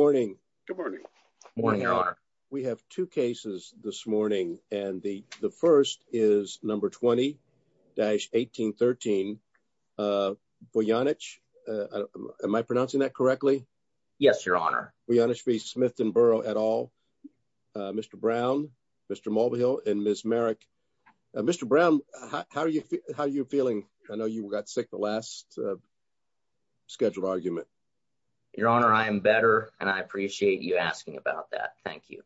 et al, Mr. Brown, Mr. Mulvihill, and Ms. Merrick. Mr. Brown, how are you feeling? I know you got sick the last scheduled argument. Your Honor, I am better, and I appreciate you asking about that. Thank you.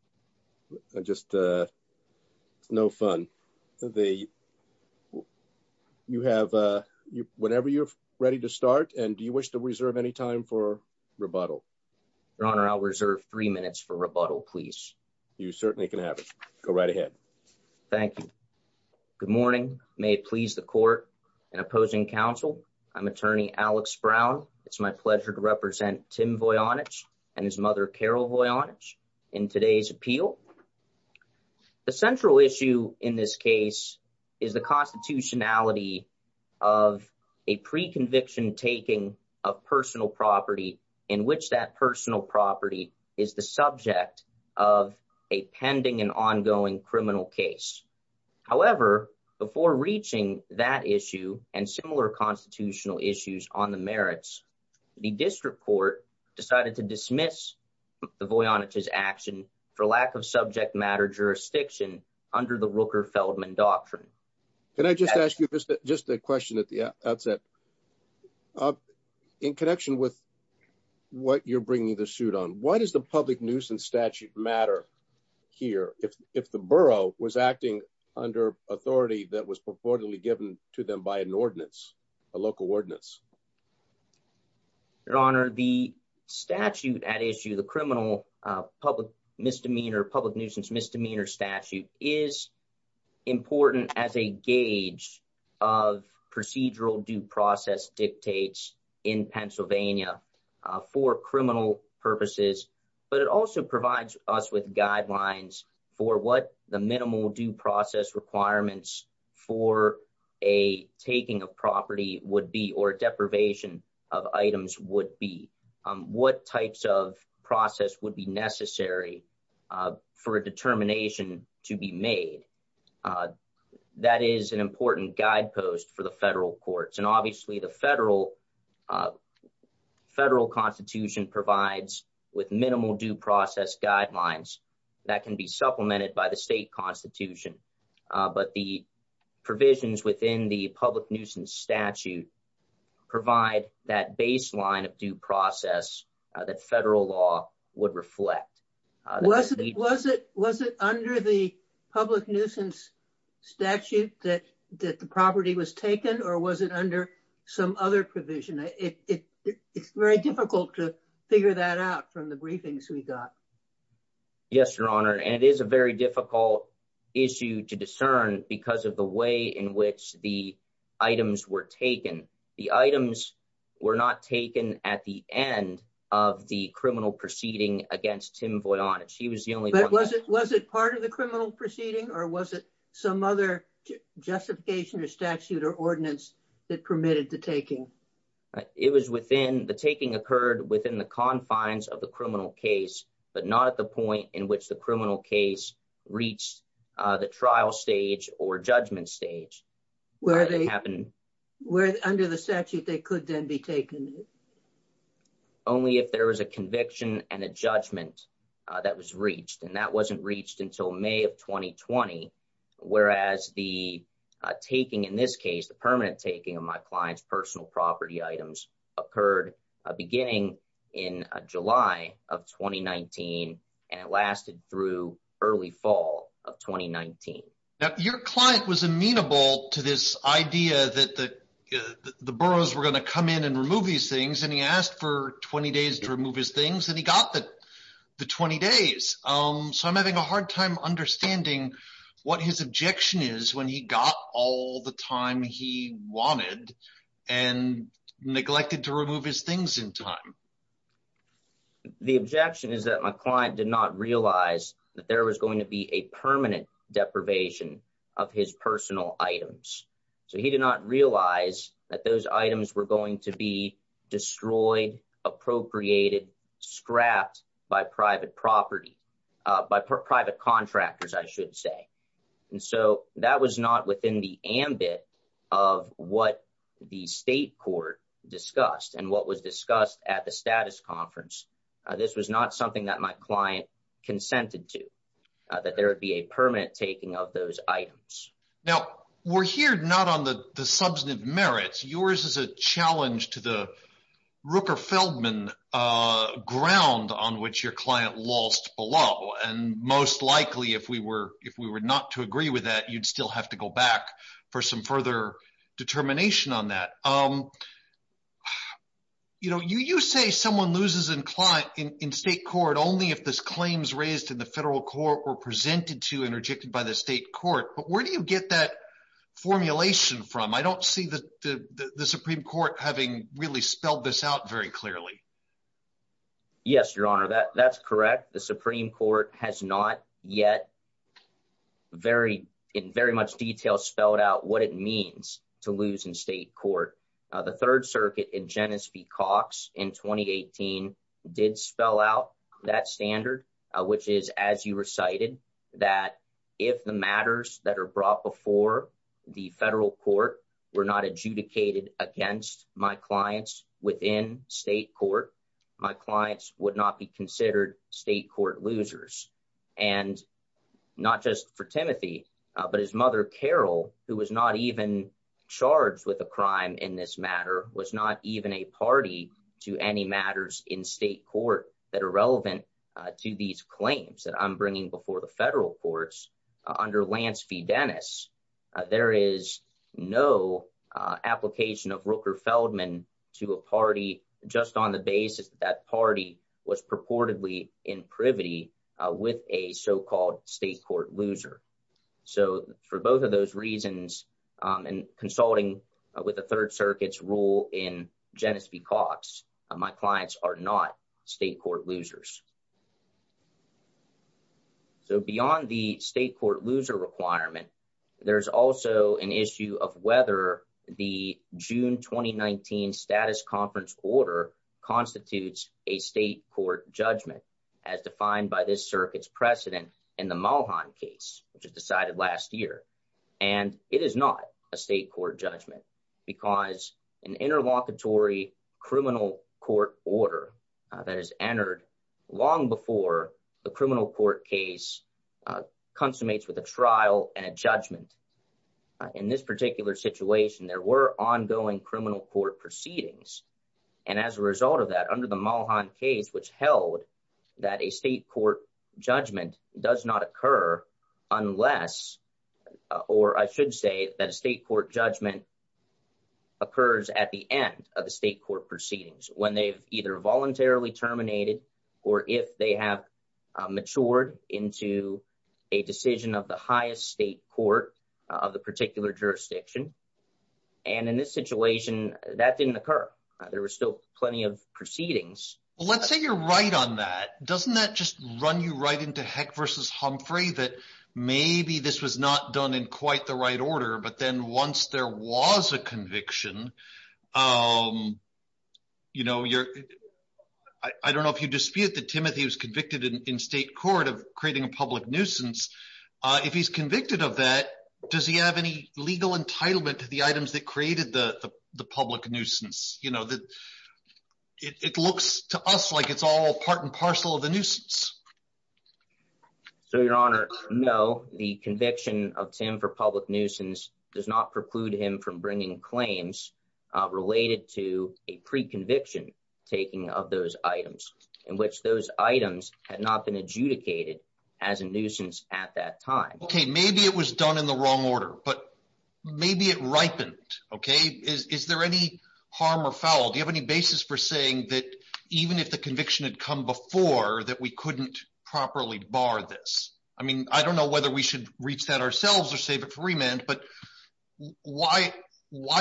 Just no fun. You have whenever you're ready to start, and do you wish to reserve any time for rebuttal? Your Honor, I'll reserve three minutes for rebuttal, please. You certainly can have it. Go right ahead. Thank you. Good morning. May it please the Court, and opposing counsel, I'm Attorney Alex Brown. It's my pleasure to represent Tim Voyanich and his mother Carol Voyanich in today's appeal. The central issue in this case is the constitutionality of a pre-conviction taking of personal property in which that personal property is the subject of a pending and ongoing criminal case. However, before reaching that issue and similar constitutional issues on the merits, the district court decided to dismiss the Voyanich's action for lack of subject matter jurisdiction under the Rooker-Feldman doctrine. Can I just ask you just a question at the outset? In connection with what you're bringing the suit on, why does the public nuisance statute matter here if the borough was acting under authority that was purportedly given to them by an ordinance, a local ordinance? Your Honor, the statute at issue, the criminal public misdemeanor, public nuisance misdemeanor statute, is important as a gauge of procedural due process dictates in Pennsylvania for criminal purposes, but it also provides us with guidelines for what the minimal due process requirements for a taking of property would be, or definitely would be. What the minimum deprivation of items would be, what types of process would be necessary for a determination to be made. That is an important guidepost for the federal courts, and obviously the federal constitution provides with minimal due process guidelines that can be supplemented by the state constitution. But the provisions within the public nuisance statute provide that baseline of due process that federal law would reflect. Was it under the public nuisance statute that the property was taken, or was it under some other provision? It's very difficult to figure that out from the briefings we got. Yes, Your Honor, and it is a very difficult issue to discern because of the way in which the items were taken. The items were not taken at the end of the criminal proceeding against Tim Voydon. Was it part of the criminal proceeding, or was it some other justification or statute or ordinance that permitted the taking? The taking occurred within the confines of the criminal case, but not at the point in which the criminal case reached the trial stage or judgment stage. Under the statute, they could then be taken? Only if there was a conviction and a judgment that was reached, and that wasn't reached until May of 2020, whereas the taking in this case, the permanent taking of my client's personal property items, occurred beginning in July of 2019, and it lasted through early fall of 2019. Now, your client was amenable to this idea that the boroughs were going to come in and remove these things, and he asked for 20 days to remove his things, and he got the 20 days. So I'm having a hard time understanding what his objection is when he got all the time he wanted and neglected to remove his things in time. The objection is that my client did not realize that there was going to be a permanent deprivation of his personal items. So he did not realize that those items were going to be destroyed, appropriated, scrapped by private property, by private contractors, I should say. And so that was not within the ambit of what the state court discussed and what was discussed at the status conference. This was not something that my client consented to, that there would be a permanent taking of those items. Now, we're here not on the substantive merits. Yours is a challenge to the Rooker-Feldman ground on which your client lost below, and most likely, if we were not to agree with that, you'd still have to go back for some further determination on that. You say someone loses in state court only if this claim is raised in the federal court or presented to and rejected by the state court, but where do you get that formulation from? I don't see the Supreme Court having really spelled this out very clearly. Yes, Your Honor, that's correct. The Supreme Court has not yet, in very much detail, spelled out what it means to lose in state court. The Third Circuit in Genesee Cox in 2018 did spell out that standard, which is, as you recited, that if the matters that are brought before the federal court were not adjudicated against my clients within state court, my clients would not be considered state court losers. And not just for Timothy, but his mother, Carol, who was not even charged with a crime in this matter, was not even a party to any matters in state court that are relevant to these claims that I'm bringing before the federal courts. Under Lance v. Dennis, there is no application of Rooker-Feldman to a party just on the basis that that party was purportedly in privity with a so-called state court loser. So for both of those reasons, and consulting with the Third Circuit's rule in Genesee Cox, my clients are not state court losers. So beyond the state court loser requirement, there's also an issue of whether the June 2019 status conference order constitutes a state court judgment, as defined by this circuit's precedent in the Mulholland case, which was decided last year. And it is not a state court judgment, because an interlocutory criminal court order that is entered long before the criminal court case consummates with a trial and a judgment. In this particular situation, there were ongoing criminal court proceedings. And as a result of that, under the Mulholland case, which held that a state court judgment does not occur unless, or I should say that a state court judgment occurs at the end of the state court proceedings, when they've either voluntarily terminated, or if they have matured into a decision of the highest state court of the particular jurisdiction. And in this situation, that didn't occur. There were still plenty of proceedings. Well, let's say you're right on that. Doesn't that just run you right into Heck versus Humphrey, that maybe this was not done in quite the right order, but then once there was a conviction, I don't know if you dispute that Timothy was convicted in state court of creating a public nuisance. If he's convicted of that, does he have any legal entitlement to the items that created the public nuisance? It looks to us like it's all part and parcel of the nuisance. So, Your Honor, no, the conviction of Tim for public nuisance does not preclude him from bringing claims related to a pre-conviction taking of those items in which those items had not been adjudicated as a nuisance at that time. Okay. Maybe it was done in the wrong order, but maybe it ripened. Okay. Is there any harm or foul? Do you have any basis for saying that even if the conviction had come before, that we couldn't properly bar this? I mean, I don't know whether we should reach that ourselves or save it for remand, but why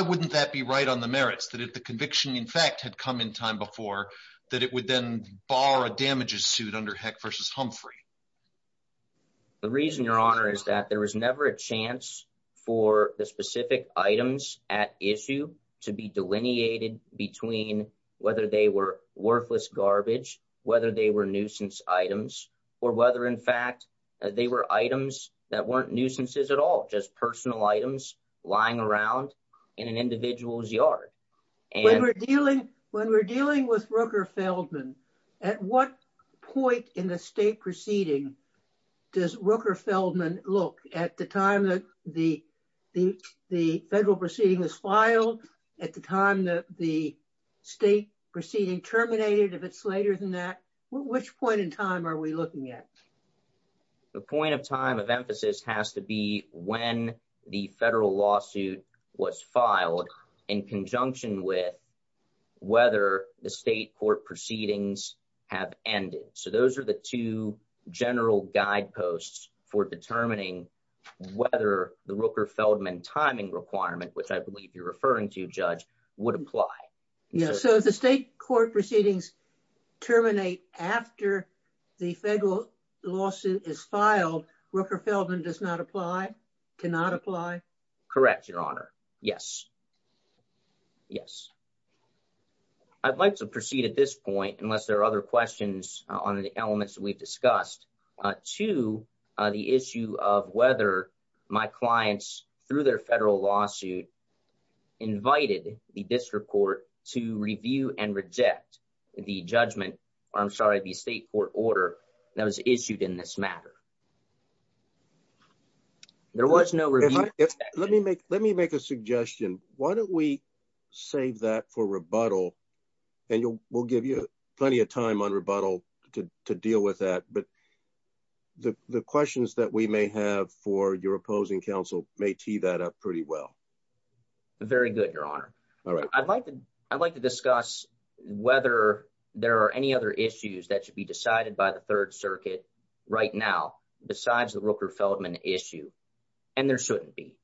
wouldn't that be right on the merits, that if the conviction in fact had come in time before, that it would then bar a damages suit under Heck versus Humphrey? The reason, Your Honor, is that there was never a chance for the specific items at issue to be delineated between whether they were worthless garbage, whether they were nuisance items, or whether in fact they were items that weren't nuisances at all, just personal items lying around in an individual's yard. When we're dealing with Rooker-Feldman, at what point in the state proceeding does Rooker-Feldman look at the time that the federal proceeding was filed, at the time that the state proceeding terminated, if it's later than that? Which point in time are we looking at? The point of time of emphasis has to be when the federal lawsuit was filed in conjunction with whether the state court proceedings have ended. So those are the two general guideposts for determining whether the Rooker-Feldman timing requirement, which I believe you're referring to, Judge, would apply. So if the state court proceedings terminate after the federal lawsuit is filed, Rooker-Feldman does not apply? Cannot apply? Correct, Your Honor. Yes. Yes. I'd like to proceed at this point, unless there are other questions on the elements that we've discussed, to the issue of whether my clients, through their federal lawsuit, invited the district court to review and reject the judgment, or I'm sorry, the state court order that was issued in this matter. There was no review. Let me make a suggestion. Why don't we save that for rebuttal, and we'll give you plenty of time on rebuttal to deal with that. But the questions that we may have for your opposing counsel may tee that up pretty well. Very good, Your Honor. I'd like to discuss whether there are any other issues that should be decided by the Third Circuit right now besides the Rooker-Feldman issue, and there shouldn't be.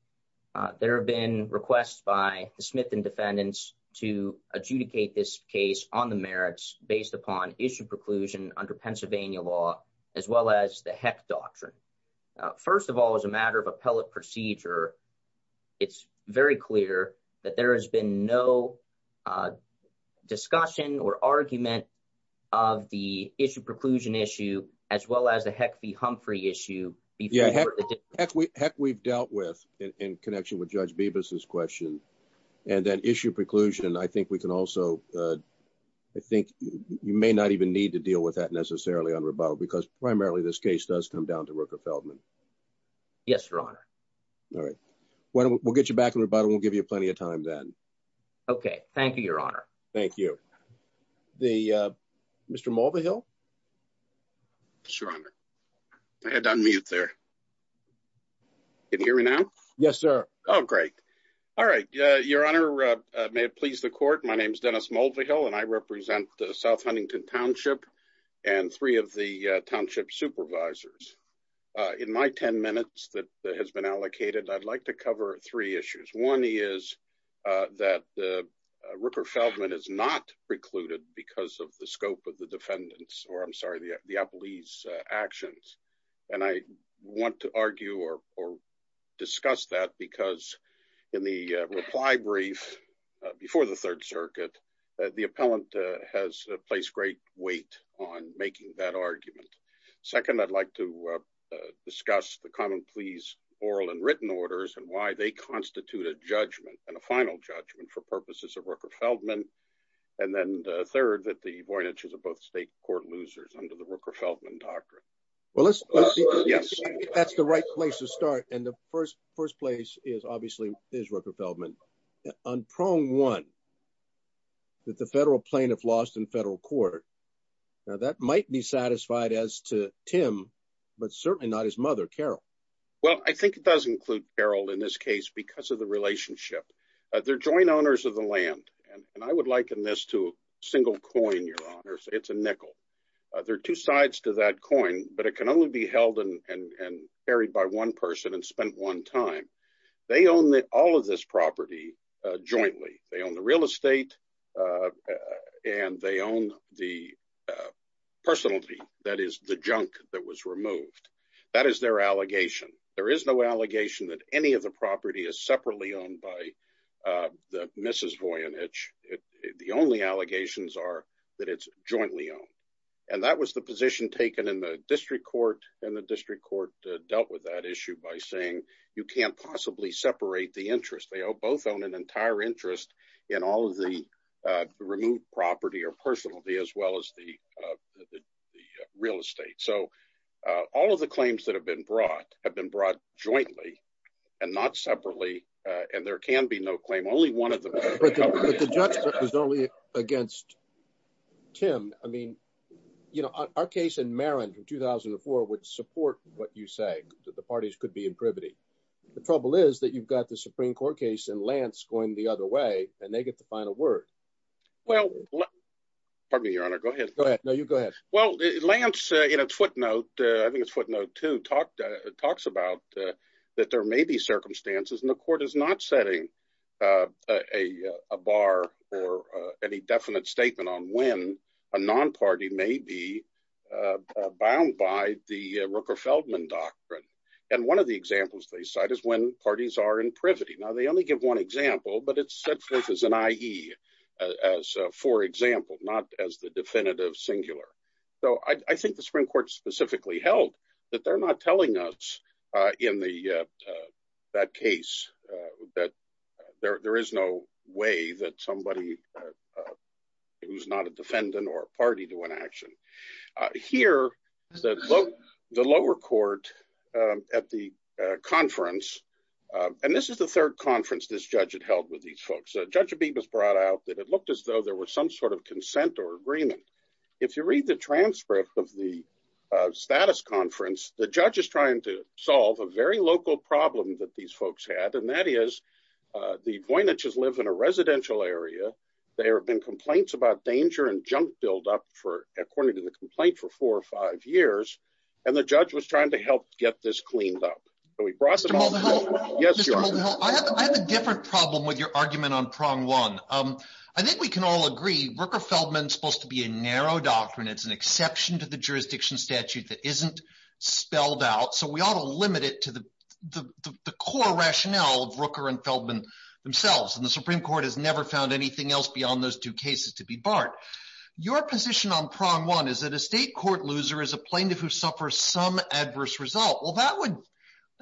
There have been requests by the Smith and defendants to adjudicate this case on the merits based upon issue preclusion under Pennsylvania law, as well as the Heck doctrine. First of all, as a matter of appellate procedure, it's very clear that there has been no discussion or argument of the issue preclusion issue, as well as the Heck v. Humphrey issue. Heck we've dealt with in connection with Judge Bibas's question, and that issue preclusion, I think we can also, I think you may not even need to deal with that necessarily on rebuttal, because primarily this case does come down to Rooker-Feldman. Yes, Your Honor. All right. We'll get you back on rebuttal. We'll give you plenty of time then. Okay. Thank you, Your Honor. Thank you. Mr. Mulvihill? Sure, Your Honor. I had to unmute there. Can you hear me now? Yes, sir. Oh, great. All right. Your Honor, may it please the court, my name is Dennis Mulvihill, and I represent the South Huntington Township and three of the township supervisors. In my 10 minutes that has been allocated, I'd like to cover three issues. One is that Rooker-Feldman is not precluded because of the scope of the defendant's, or I'm sorry, the appellee's actions. And I want to argue or discuss that because in the reply brief before the Third Circuit, the appellant has placed great weight on making that argument. Second, I'd like to discuss the common pleas oral and written orders and why they constitute a judgment and a final judgment for purposes of Rooker-Feldman. And then third, that the Voyniches are both state court losers under the Rooker-Feldman doctrine. Well, let's see if that's the right place to start. And the first place is obviously is Rooker-Feldman. On prong one, that the federal plaintiff lost in federal court, now that might be satisfied as to Tim, but certainly not his mother, Carol. Well, I think it does include Carol in this case because of the relationship. They're joint owners of the land, and I would liken this to a single coin, Your Honor. It's a nickel. There are two sides to that coin, but it can only be held and buried by one person and spent one time. They own all of this property jointly. They own the real estate and they own the personality, that is, the junk that was removed. That is their allegation. There is no allegation that any of the property is separately owned by Mrs. Voynich. The only allegations are that it's jointly owned. And that was the position taken in the district court, and the district court dealt with that issue by saying you can't possibly separate the interest. They both own an entire interest in all of the removed property or personality as well as the real estate. So all of the claims that have been brought have been brought jointly and not separately, and there can be no claim. Only one of them. But the judgment was only against Tim. I mean, you know, our case in Marin from 2004 would support what you say, that the parties could be in privity. The trouble is that you've got the Supreme Court case and Lance going the other way and they get the final word. Well, pardon me, Your Honor. Go ahead. Go ahead. No, you go ahead. Well, Lance, in a footnote, I think it's footnote two, talks about that there may be circumstances and the court is not setting a bar or any definite statement on when a non-party may be bound by the Rooker-Feldman doctrine. And one of the examples they cite is when parties are in privity. Now, they only give one example, but it's set forth as an IE, as for example, not as the definitive singular. So I think the Supreme Court specifically held that they're not telling us in that case that there is no way that somebody who's not a defendant or party to an action. Here, the lower court at the conference, and this is the third conference this judge had held with these folks. Judge Abibas brought out that it looked as though there was some sort of consent or agreement. If you read the transcript of the status conference, the judge is trying to solve a very local problem that these folks had, and that is the Voyniches live in a residential area. There have been complaints about danger and junk buildup, according to the complaint, for four or five years, and the judge was trying to help get this cleaned up. So he brought some— Mr. Moldenhau, I have a different problem with your argument on prong one. I think we can all agree Rooker-Feldman is supposed to be a narrow doctrine. It's an exception to the jurisdiction statute that isn't spelled out, so we ought to limit it to the core rationale of Rooker and Feldman themselves. And the Supreme Court has never found anything else beyond those two cases to be barred. Your position on prong one is that a state court loser is a plaintiff who suffers some adverse result. Well,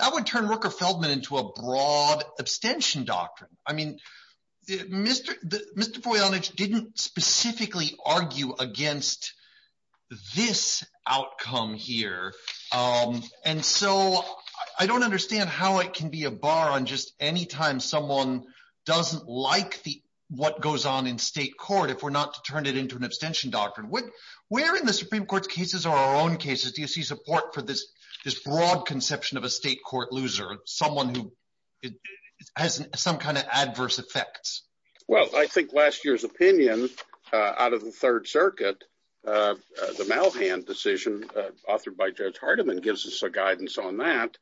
that would turn Rooker-Feldman into a broad abstention doctrine. I mean Mr. Voynich didn't specifically argue against this outcome here. And so I don't understand how it can be a bar on just any time someone doesn't like what goes on in state court if we're not to turn it into an abstention doctrine. Where in the Supreme Court's cases or our own cases do you see support for this broad conception of a state court loser, someone who has some kind of adverse effects? Well, I think last year's opinion out of the Third Circuit, the Malhan decision authored by Judge Hardiman gives us a guidance on that.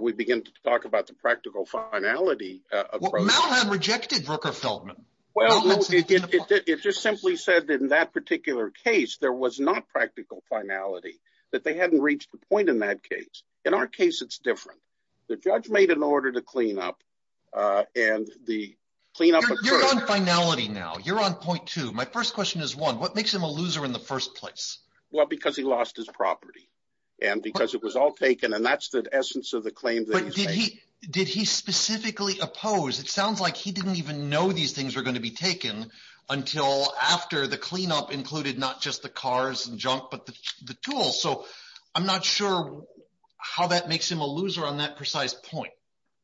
We begin to talk about the practical finality approach. Well, Malhan rejected Rooker-Feldman. Well, it just simply said in that particular case there was not practical finality, that they hadn't reached a point in that case. In our case it's different. The judge made an order to clean up and the cleanup occurred. You're on finality now. You're on point two. My first question is one. What makes him a loser in the first place? Well, because he lost his property and because it was all taken and that's the essence of the claim that he's making. But did he specifically oppose? It sounds like he didn't even know these things were going to be taken until after the cleanup included not just the cars and junk but the tools. So I'm not sure how that makes him a loser on that precise point.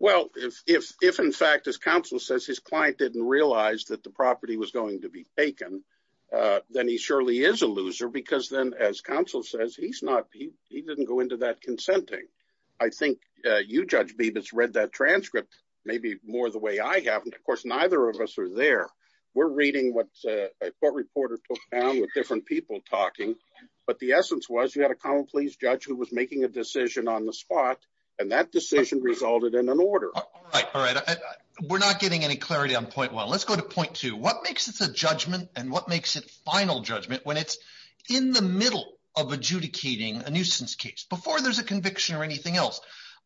Well, if in fact, as counsel says, his client didn't realize that the property was going to be taken, then he surely is a loser because then, as counsel says, he didn't go into that consenting. I think you, Judge Bibas, read that transcript maybe more the way I have. And, of course, neither of us are there. We're reading what a court reporter took down with different people talking. But the essence was you had a common pleas judge who was making a decision on the spot, and that decision resulted in an order. All right. We're not getting any clarity on point one. Let's go to point two. What makes it a judgment and what makes it final judgment when it's in the middle of adjudicating a nuisance case before there's a conviction or anything else?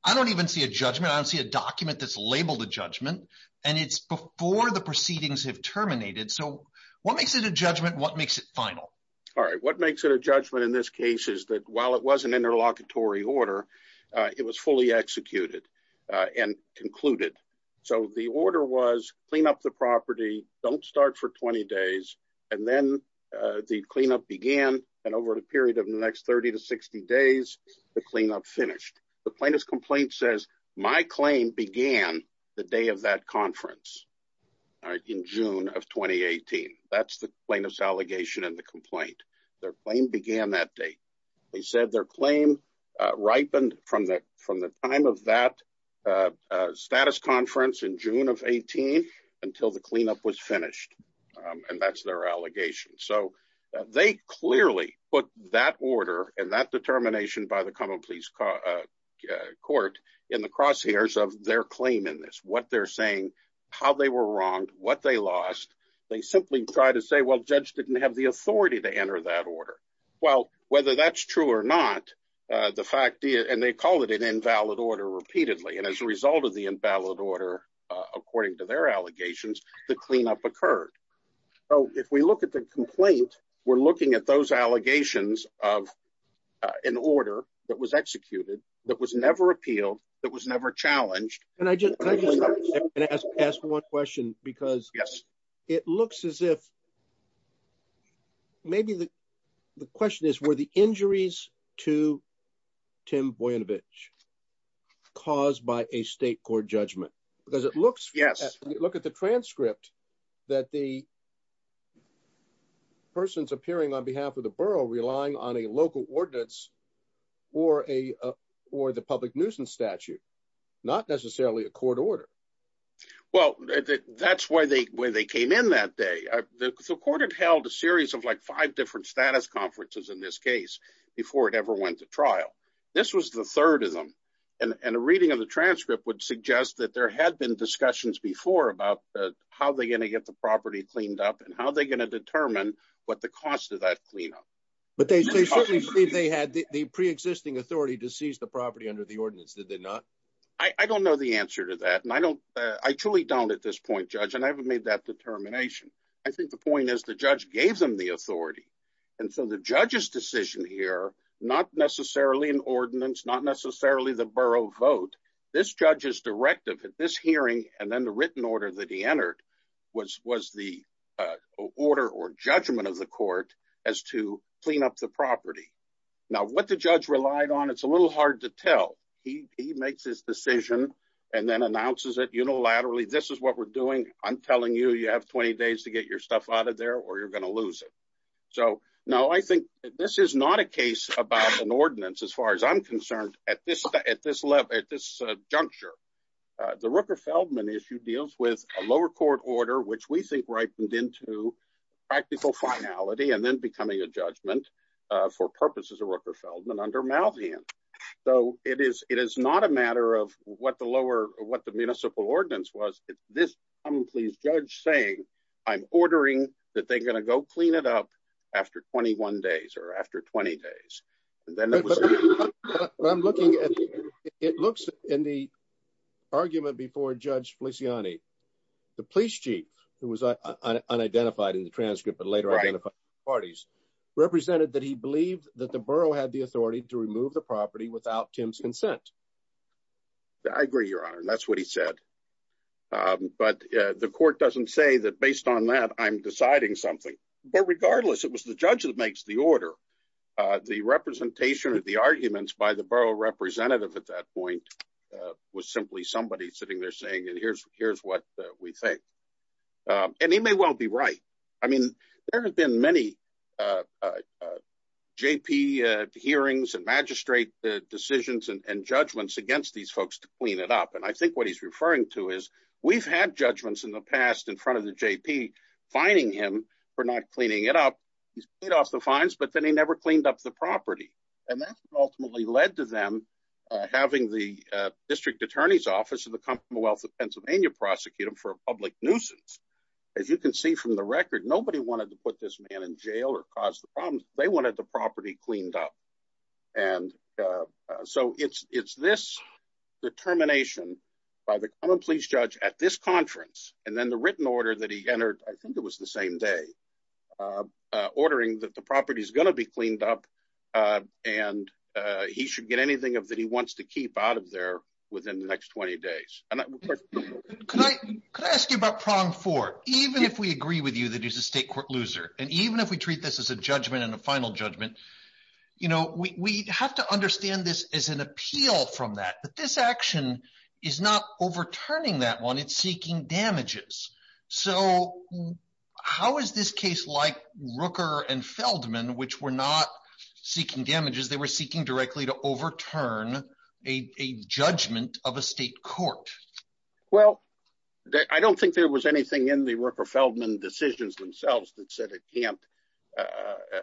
I don't even see a judgment. I don't see a document that's labeled a judgment, and it's before the proceedings have terminated. So what makes it a judgment? What makes it final? All right. What makes it a judgment in this case is that while it was an interlocutory order, it was fully executed and concluded. So the order was clean up the property. Don't start for 20 days. And then the cleanup began. And over the period of the next 30 to 60 days, the cleanup finished. The plaintiff's complaint says my claim began the day of that conference in June of 2018. That's the plaintiff's allegation in the complaint. Their claim began that day. They said their claim ripened from the time of that status conference in June of 18 until the cleanup was finished. And that's their allegation. So they clearly put that order and that determination by the Commonwealth Court in the crosshairs of their claim in this. What they're saying, how they were wronged, what they lost. They simply try to say, well, judge didn't have the authority to enter that order. Well, whether that's true or not, the fact is, and they call it an invalid order repeatedly. And as a result of the invalid order, according to their allegations, the cleanup occurred. So if we look at the complaint, we're looking at those allegations of an order that was executed, that was never appealed, that was never challenged. Can I just ask one question? Because it looks as if maybe the question is, were the injuries to Tim Boyinovitch caused by a state court judgment? Because it looks, look at the transcript that the person's appearing on behalf of the borough relying on a local ordinance or the public nuisance statute, not necessarily a court order. Well, that's why they came in that day. The court had held a series of like five different status conferences in this case before it ever went to trial. This was the third of them. And a reading of the transcript would suggest that there had been discussions before about how they're going to get the property cleaned up and how they're going to determine what the cost of that cleanup. But they certainly said they had the preexisting authority to seize the property under the ordinance, did they not? I don't know the answer to that. And I don't, I truly don't at this point, Judge, and I haven't made that determination. And so the judge's decision here, not necessarily an ordinance, not necessarily the borough vote. This judge's directive at this hearing and then the written order that he entered was the order or judgment of the court as to clean up the property. Now, what the judge relied on, it's a little hard to tell. He makes his decision and then announces it unilaterally. This is what we're doing. I'm telling you, you have 20 days to get your stuff out of there or you're going to lose it. So, no, I think this is not a case about an ordinance as far as I'm concerned at this level, at this juncture. The Rooker-Feldman issue deals with a lower court order, which we think ripened into practical finality and then becoming a judgment for purposes of Rooker-Feldman under Malveon. So it is not a matter of what the municipal ordinance was. It's this common please judge saying, I'm ordering that they're going to go clean it up after 21 days or after 20 days. I'm looking at it looks in the argument before Judge Feliciani. The police chief who was unidentified in the transcript but later identified parties represented that he believed that the borough had the authority to remove the property without Tim's consent. I agree, Your Honor. That's what he said. But the court doesn't say that based on that, I'm deciding something. But regardless, it was the judge that makes the order. The representation of the arguments by the borough representative at that point was simply somebody sitting there saying, here's what we think. And he may well be right. I mean, there have been many JP hearings and magistrate decisions and judgments against these folks to clean it up. And I think what he's referring to is we've had judgments in the past in front of the JP fining him for not cleaning it up. He's paid off the fines, but then he never cleaned up the property. And that ultimately led to them having the district attorney's office of the Commonwealth of Pennsylvania prosecute him for a public nuisance. As you can see from the record, nobody wanted to put this man in jail or cause the problems. They wanted the property cleaned up. And so it's this determination by the common pleas judge at this conference and then the written order that he entered, I think it was the same day, ordering that the property is going to be cleaned up and he should get anything that he wants to keep out of there within the next 20 days. Can I ask you about prong four? Even if we agree with you that he's a state court loser and even if we treat this as a judgment and a final judgment, you know, we have to understand this as an appeal from that. But this action is not overturning that one. It's seeking damages. So how is this case like Rooker and Feldman, which were not seeking damages, they were seeking directly to overturn a judgment of a state court? Well, I don't think there was anything in the Rooker Feldman decisions themselves that said it can't.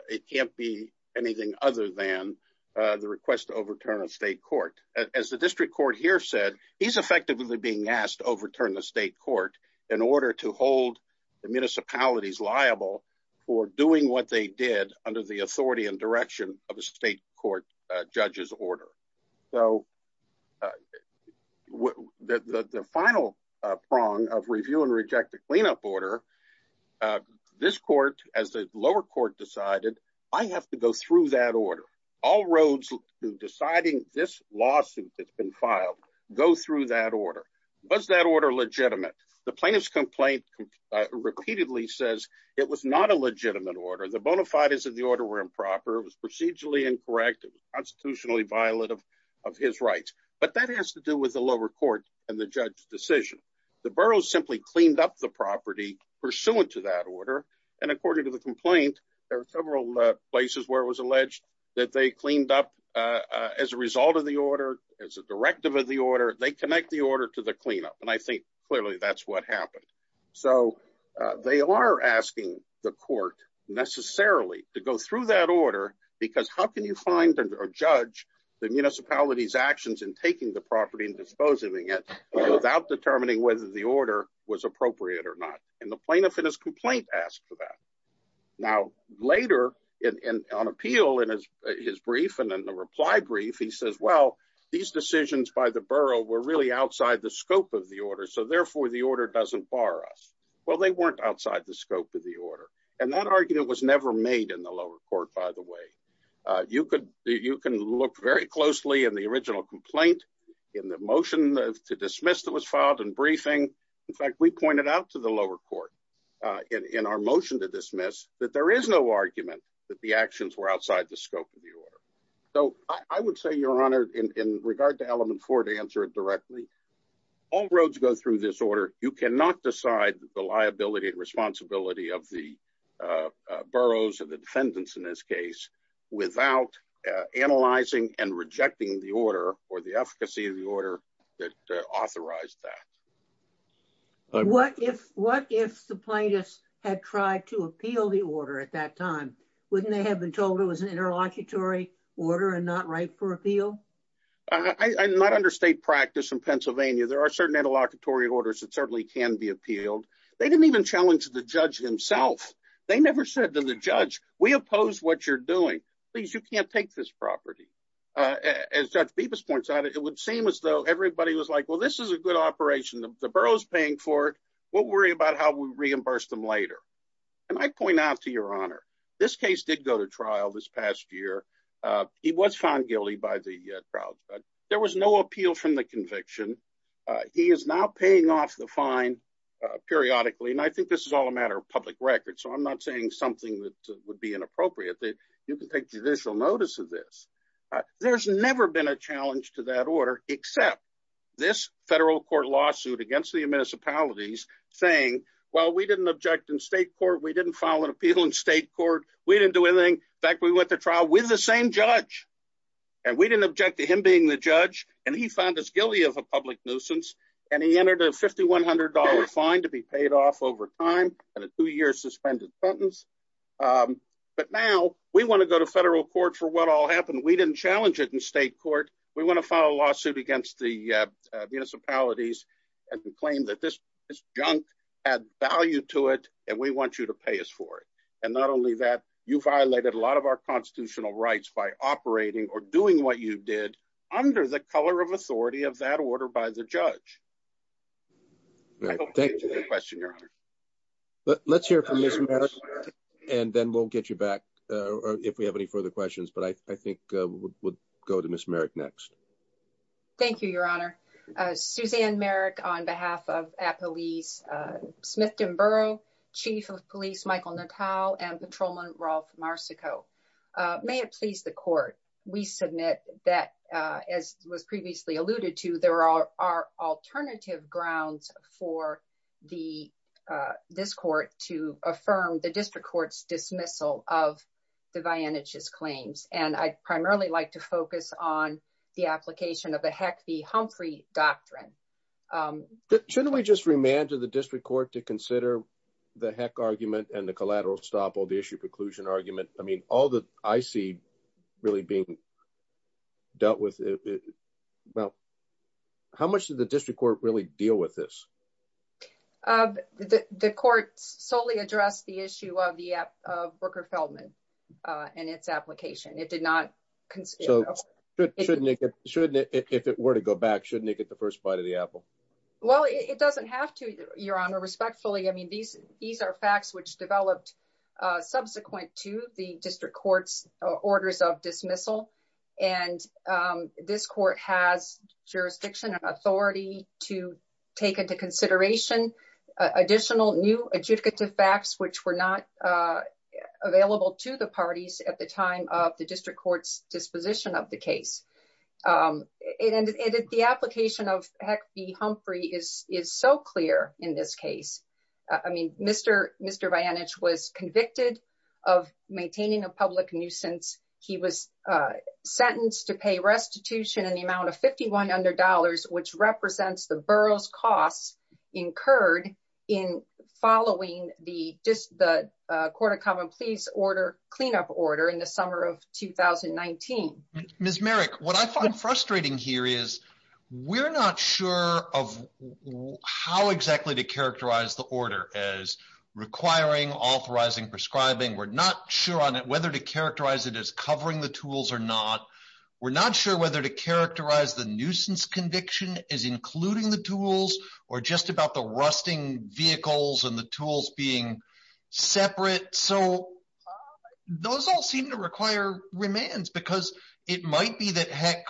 It can't be anything other than the request to overturn a state court. As the district court here said, he's effectively being asked to overturn the state court in order to hold the municipalities liable for doing what they did under the authority and direction of a state court judge's order. So the final prong of review and reject the cleanup order, this court, as the lower court decided, I have to go through that order. All roads to deciding this lawsuit that's been filed go through that order. Was that order legitimate? The plaintiff's complaint repeatedly says it was not a legitimate order. The bona fides of the order were improper. It was procedurally incorrect. It was constitutionally violent of his rights. But that has to do with the lower court and the judge's decision. The borough simply cleaned up the property pursuant to that order. And according to the complaint, there are several places where it was alleged that they cleaned up as a result of the order, as a directive of the order. They connect the order to the cleanup. And I think clearly that's what happened. So they are asking the court necessarily to go through that order, because how can you find a judge, the municipality's actions in taking the property and disposing of it without determining whether the order was appropriate or not? And the plaintiff in his complaint asked for that. Now, later on appeal in his brief and in the reply brief, he says, well, these decisions by the borough were really outside the scope of the order, so therefore the order doesn't bar us. Well, they weren't outside the scope of the order. And that argument was never made in the lower court, by the way. You can look very closely in the original complaint, in the motion to dismiss that was filed in briefing. In fact, we pointed out to the lower court in our motion to dismiss that there is no argument that the actions were outside the scope of the order. So I would say, Your Honor, in regard to element four to answer it directly. All roads go through this order, you cannot decide the liability and responsibility of the boroughs and the defendants in this case, without analyzing and rejecting the order or the efficacy of the order that authorized that. What if the plaintiffs had tried to appeal the order at that time? Wouldn't they have been told it was an interlocutory order and not right for appeal? I'm not under state practice in Pennsylvania. There are certain interlocutory orders that certainly can be appealed. They didn't even challenge the judge himself. They never said to the judge, we oppose what you're doing. Please, you can't take this property. As Judge Bibas points out, it would seem as though everybody was like, well, this is a good operation. The borough is paying for it. We'll worry about how we reimburse them later. And I point out to Your Honor, this case did go to trial this past year. He was found guilty by the crowd. There was no appeal from the conviction. He is now paying off the fine periodically. And I think this is all a matter of public record. So I'm not saying something that would be inappropriate. You can take judicial notice of this. There's never been a challenge to that order except this federal court lawsuit against the municipalities saying, well, we didn't object in state court. We didn't file an appeal in state court. We didn't do anything. In fact, we went to trial with the same judge. And we didn't object to him being the judge. And he found us guilty of a public nuisance. And he entered a $5,100 fine to be paid off over time and a two-year suspended sentence. But now we want to go to federal court for what all happened. We didn't challenge it in state court. We want to file a lawsuit against the municipalities and claim that this junk had value to it and we want you to pay us for it. And not only that, you violated a lot of our constitutional rights by operating or doing what you did under the color of authority of that order by the judge. I hope that answers your question, Your Honor. Let's hear from Ms. Merrick and then we'll get you back if we have any further questions. But I think we'll go to Ms. Merrick next. Thank you, Your Honor. Suzanne Merrick on behalf of Appalachia Smith-Dinburgh, Chief of Police Michael Natal, and Patrolman Rolf Marsico. May it please the court, we submit that, as was previously alluded to, there are alternative grounds for this court to affirm the district court's dismissal of the Vianich's claims. And I'd primarily like to focus on the application of the Heck v. Humphrey doctrine. Shouldn't we just remand to the district court to consider the Heck argument and the collateral stop all the issue preclusion argument? I mean, all that I see really being dealt with. Well, how much did the district court really deal with this? The court solely addressed the issue of the Brooker Feldman and its application. It did not consider. So shouldn't it, if it were to go back, shouldn't it get the first bite of the apple? Well, it doesn't have to, Your Honor, respectfully. I mean, these are facts which developed subsequent to the district court's orders of dismissal. And this court has jurisdiction and authority to take into consideration additional new adjudicative facts, which were not available to the parties at the time of the district court's disposition of the case. And the application of Heck v. Humphrey is so clear in this case. I mean, Mr. Vianich was convicted of maintaining a public nuisance. He was sentenced to pay restitution in the amount of $5,100, which represents the borough's costs incurred in following the Court of Common Pleas order cleanup order in the summer of 2019. So, Ms. Merrick, what I find frustrating here is we're not sure of how exactly to characterize the order as requiring, authorizing, prescribing. We're not sure on whether to characterize it as covering the tools or not. We're not sure whether to characterize the nuisance conviction as including the tools or just about the rusting vehicles and the tools being separate. So, those all seem to require remands because it might be that Heck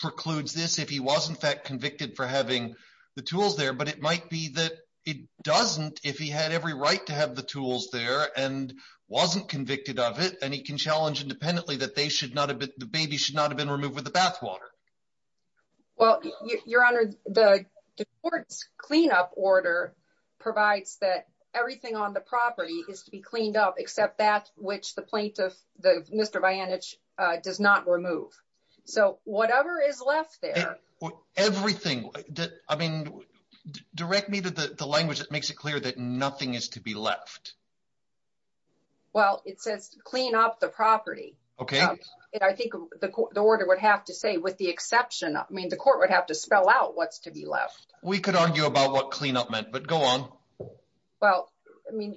precludes this if he was, in fact, convicted for having the tools there. But it might be that it doesn't if he had every right to have the tools there and wasn't convicted of it. And he can challenge independently that the baby should not have been removed with the bathwater. Well, Your Honor, the court's cleanup order provides that everything on the property is to be cleaned up except that which the plaintiff, Mr. Vianich, does not remove. So, whatever is left there. Everything. I mean, direct me to the language that makes it clear that nothing is to be left. Well, it says clean up the property. Okay. And I think the order would have to say with the exception, I mean, the court would have to spell out what's to be left. We could argue about what cleanup meant, but go on. Well, I mean,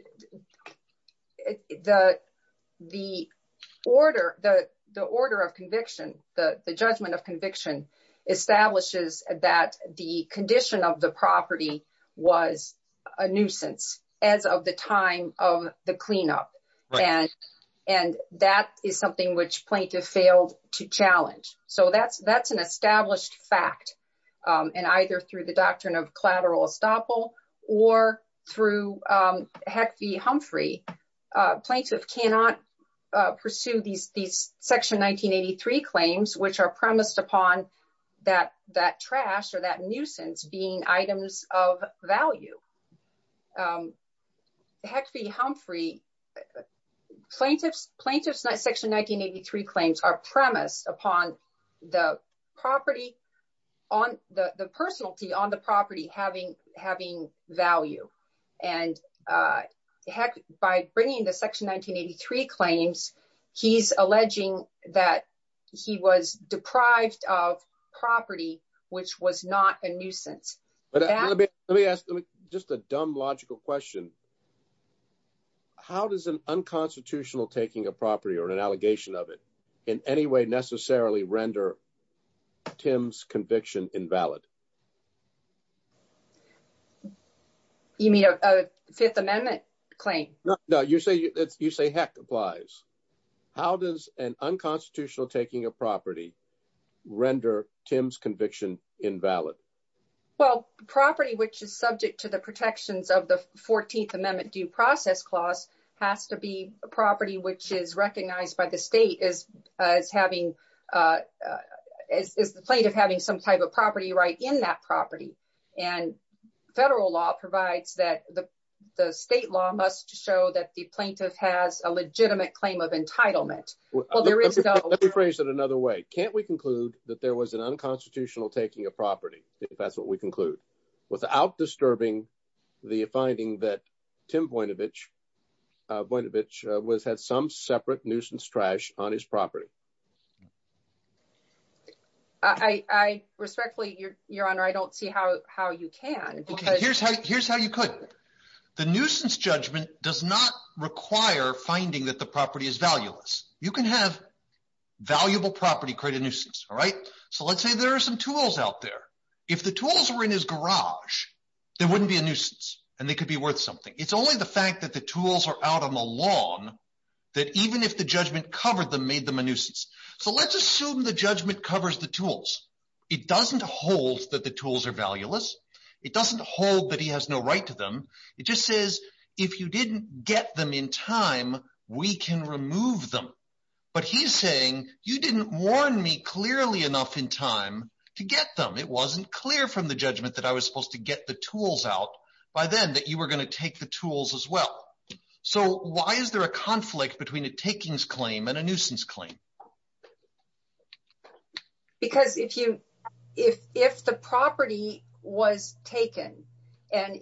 the order of conviction, the judgment of conviction establishes that the condition of the property was a nuisance as of the time of the cleanup. And that is something which plaintiff failed to challenge. So that's an established fact. And either through the doctrine of collateral estoppel or through Heck v. Humphrey, plaintiff cannot pursue these Section 1983 claims, which are premised upon that trash or that nuisance being items of value. Heck v. Humphrey, plaintiff's Section 1983 claims are premised upon the property, the personality on the property having value. And by bringing the Section 1983 claims, he's alleging that he was deprived of property, which was not a nuisance. Let me ask just a dumb logical question. How does an unconstitutional taking a property or an allegation of it in any way necessarily render Tim's conviction invalid? You mean a Fifth Amendment claim? No, you say Heck applies. How does an unconstitutional taking a property render Tim's conviction invalid? Well, property which is subject to the protections of the 14th Amendment due process clause has to be a property which is recognized by the state as the plaintiff having some type of property right in that property. And federal law provides that the state law must show that the plaintiff has a legitimate claim of entitlement. Let me phrase it another way. Can't we conclude that there was an unconstitutional taking a property, if that's what we conclude, without disturbing the finding that Tim Voinovich had some separate nuisance trash on his property? I respectfully, Your Honor, I don't see how you can. Here's how you could. The nuisance judgment does not require finding that the property is valueless. You can have valuable property create a nuisance. All right. So let's say there are some tools out there. If the tools were in his garage, there wouldn't be a nuisance and they could be worth something. It's only the fact that the tools are out on the lawn that even if the judgment covered them made them a nuisance. So let's assume the judgment covers the tools. It doesn't hold that the tools are valueless. It doesn't hold that he has no right to them. It just says if you didn't get them in time, we can remove them. But he's saying you didn't warn me clearly enough in time to get them. It wasn't clear from the judgment that I was supposed to get the tools out by then that you were going to take the tools as well. So why is there a conflict between a takings claim and a nuisance claim? Because if the property was taken and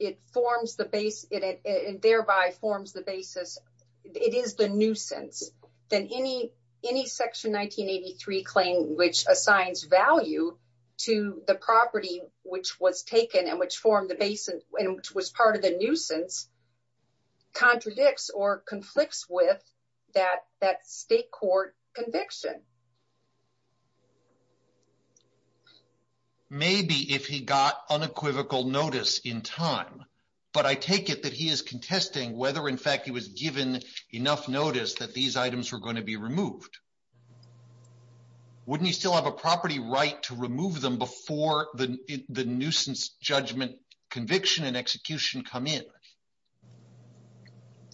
it forms the base and thereby forms the basis, it is the nuisance. Then any section 1983 claim which assigns value to the property which was taken and which formed the base and which was part of the nuisance contradicts or conflicts with that state court conviction. Maybe if he got unequivocal notice in time. But I take it that he is contesting whether in fact he was given enough notice that these items were going to be removed. Wouldn't he still have a property right to remove them before the nuisance judgment conviction and execution come in?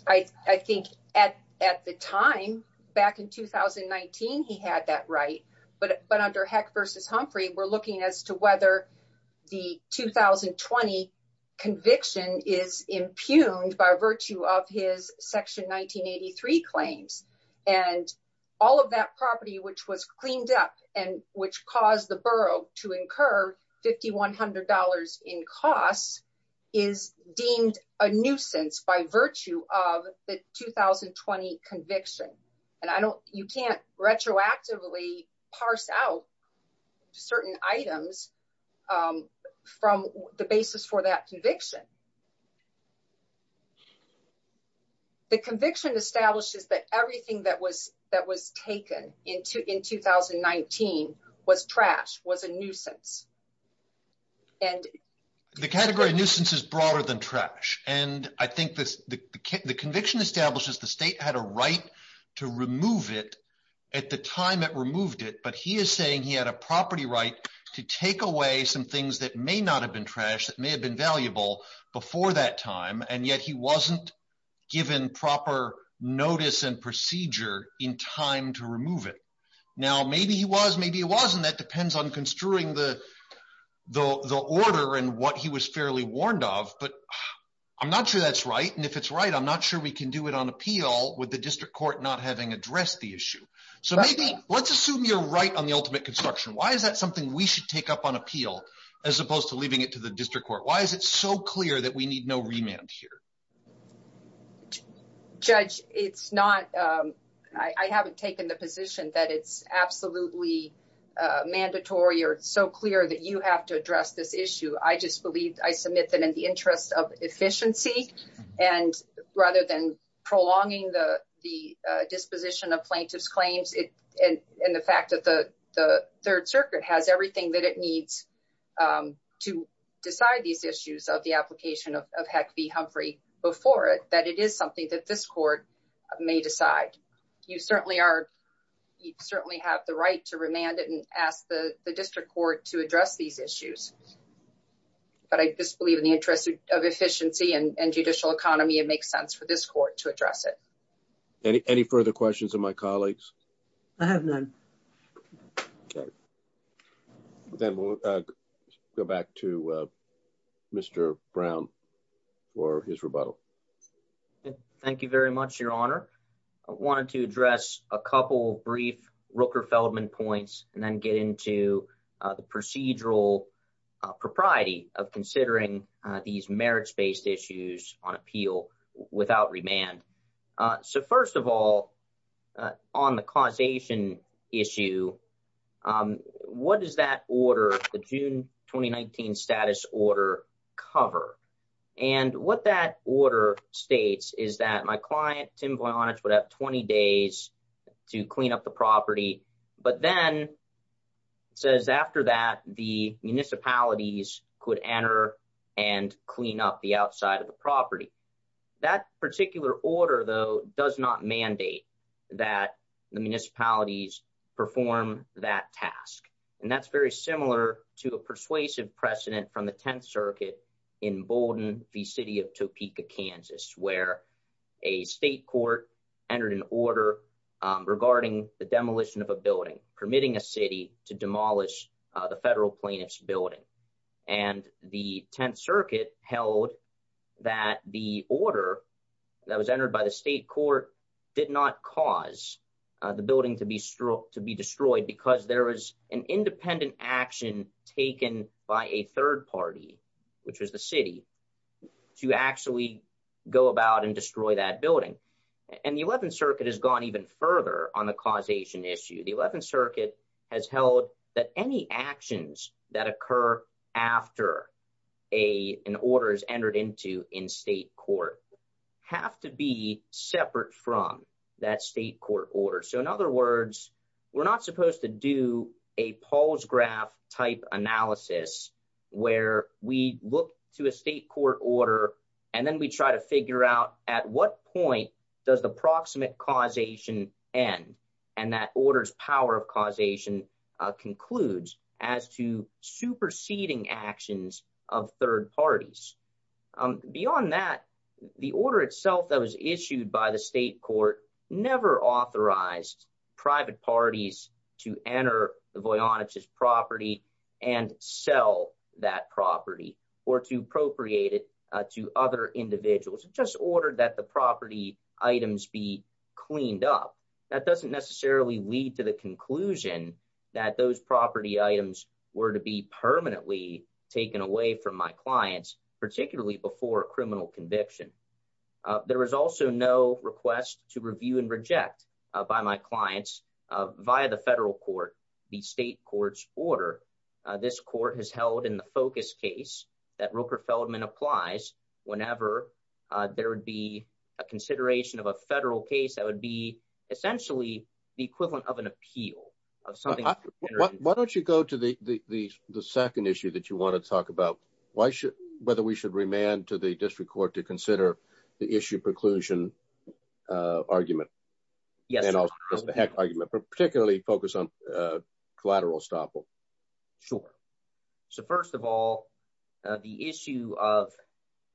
I think at the time back in 2019, he had that right. But under Heck versus Humphrey, we're looking as to whether the 2020 conviction is impugned by virtue of his section 1983 claims. And all of that property which was cleaned up and which caused the borough to incur $5,100 in costs is deemed a nuisance by virtue of the 2020 conviction. And you can't retroactively parse out certain items from the basis for that conviction. The conviction establishes that everything that was that was taken into in 2019 was trash was a nuisance. And the category nuisance is broader than trash. And I think the conviction establishes the state had a right to remove it at the time it removed it. But he is saying he had a property right to take away some things that may not have been trash that may have been valuable before that time. And yet he wasn't given proper notice and procedure in time to remove it. Now, maybe he was, maybe he wasn't. That depends on construing the the order and what he was fairly warned of. But I'm not sure that's right. And if it's right, I'm not sure we can do it on appeal with the district court not having addressed the issue. So maybe let's assume you're right on the ultimate construction. Why is that something we should take up on appeal as opposed to leaving it to the district court? Why is it so clear that we need no remand here? Judge, it's not I haven't taken the position that it's absolutely mandatory or so clear that you have to address this issue. I just believe I submit that in the interest of efficiency and rather than prolonging the disposition of plaintiff's claims. And the fact that the Third Circuit has everything that it needs to decide these issues of the application of heck be Humphrey before it, that it is something that this court may decide. You certainly are. You certainly have the right to remand it and ask the district court to address these issues. But I just believe in the interest of efficiency and judicial economy, it makes sense for this court to address it. Any further questions of my colleagues? I have none. Then we'll go back to Mr. Brown for his rebuttal. Thank you very much, Your Honor. I wanted to address a couple of brief Rooker Feldman points and then get into the procedural propriety of considering these merits based issues on appeal without remand. So, first of all, on the causation issue, what does that order, the June 2019 status order cover? And what that order states is that my client, Tim Voynich, would have 20 days to clean up the property. But then it says after that, the municipalities could enter and clean up the outside of the property. That particular order, though, does not mandate that the municipalities perform that task. And that's very similar to a persuasive precedent from the 10th Circuit in Bowdoin, the city of Topeka, Kansas, where a state court entered an order regarding the demolition of a building, permitting a city to demolish the federal plaintiff's building. And the 10th Circuit held that the order that was entered by the state court did not cause the building to be destroyed because there was an independent action taken by a third party, which was the city, to actually go about and destroy that building. And the 11th Circuit has gone even further on the causation issue. The 11th Circuit has held that any actions that occur after an order is entered into in state court have to be separate from that state court order. So in other words, we're not supposed to do a Paul's graph type analysis where we look to a state court order and then we try to figure out at what point does the proximate causation end and that order's power of causation concludes as to superseding actions of third parties. Beyond that, the order itself that was issued by the state court never authorized private parties to enter the Voynich's property and sell that property or to appropriate it to other individuals. It just ordered that the property items be cleaned up. That doesn't necessarily lead to the conclusion that those property items were to be permanently taken away from my clients, particularly before a criminal conviction. There was also no request to review and reject by my clients via the federal court the state court's order. This court has held in the focus case that Rupert Feldman applies whenever there would be a consideration of a federal case that would be essentially the equivalent of an appeal. Why don't you go to the second issue that you want to talk about, whether we should remand to the district court to consider the issue preclusion argument and also the heck argument, particularly focused on collateral estoppel? Sure. So first of all, the issue of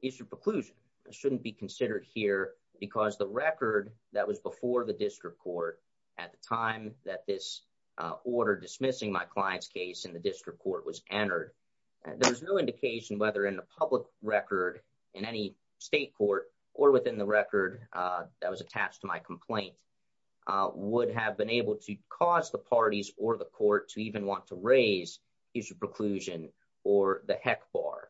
issue preclusion shouldn't be considered here because the record that was before the district court at the time that this order dismissing my client's case in the district court was entered. There's no indication whether in the public record in any state court or within the record that was attached to my complaint would have been able to cause the parties or the court to even want to raise issue preclusion or the heck bar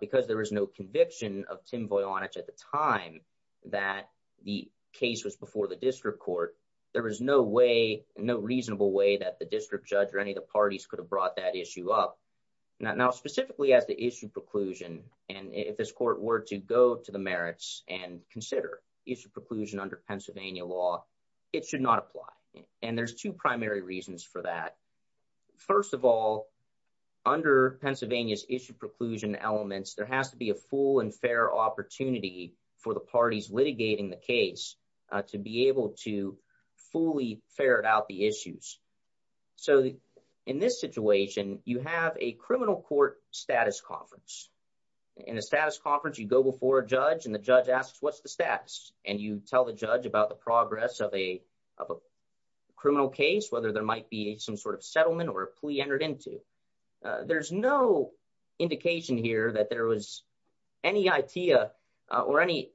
because there was no conviction of Tim Voynich at the time that the case was before the district court. There was no way, no reasonable way that the district judge or any of the parties could have brought that issue up now specifically as the issue preclusion. And if this court were to go to the merits and consider issue preclusion under Pennsylvania law, it should not apply. And there's two primary reasons for that. First of all, under Pennsylvania's issue preclusion elements, there has to be a full and fair opportunity for the parties litigating the case to be able to fully ferret out the issues. So in this situation, you have a criminal court status conference. In a status conference, you go before a judge and the judge asks, what's the status? And you tell the judge about the progress of a criminal case, whether there might be some sort of settlement or a plea entered into. There's no indication here that there was any idea or any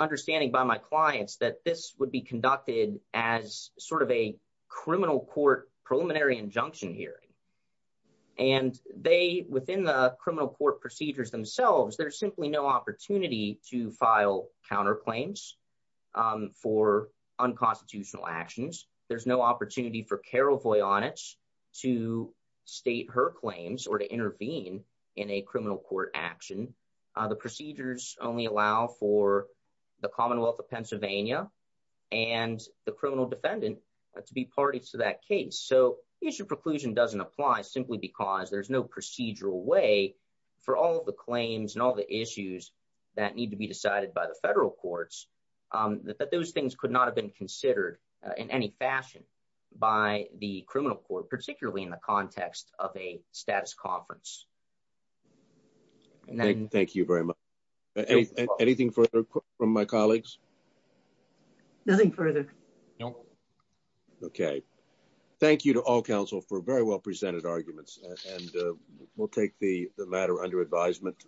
understanding by my clients that this would be conducted as sort of a criminal court preliminary injunction hearing. And they, within the criminal court procedures themselves, there's simply no opportunity to file counterclaims for unconstitutional actions. There's no opportunity for Carol Voynich to state her claims or to intervene in a criminal court action. The procedures only allow for the Commonwealth of Pennsylvania and the criminal defendant to be parties to that case. So issue preclusion doesn't apply simply because there's no procedural way for all of the claims and all the issues that need to be decided by the federal courts, that those things could not have been considered in any fashion by the criminal court, particularly in the context of a status conference. Thank you very much. Anything further from my colleagues? Nothing further. No. Okay. Thank you to all counsel for very well presented arguments and we'll take the matter under advisement.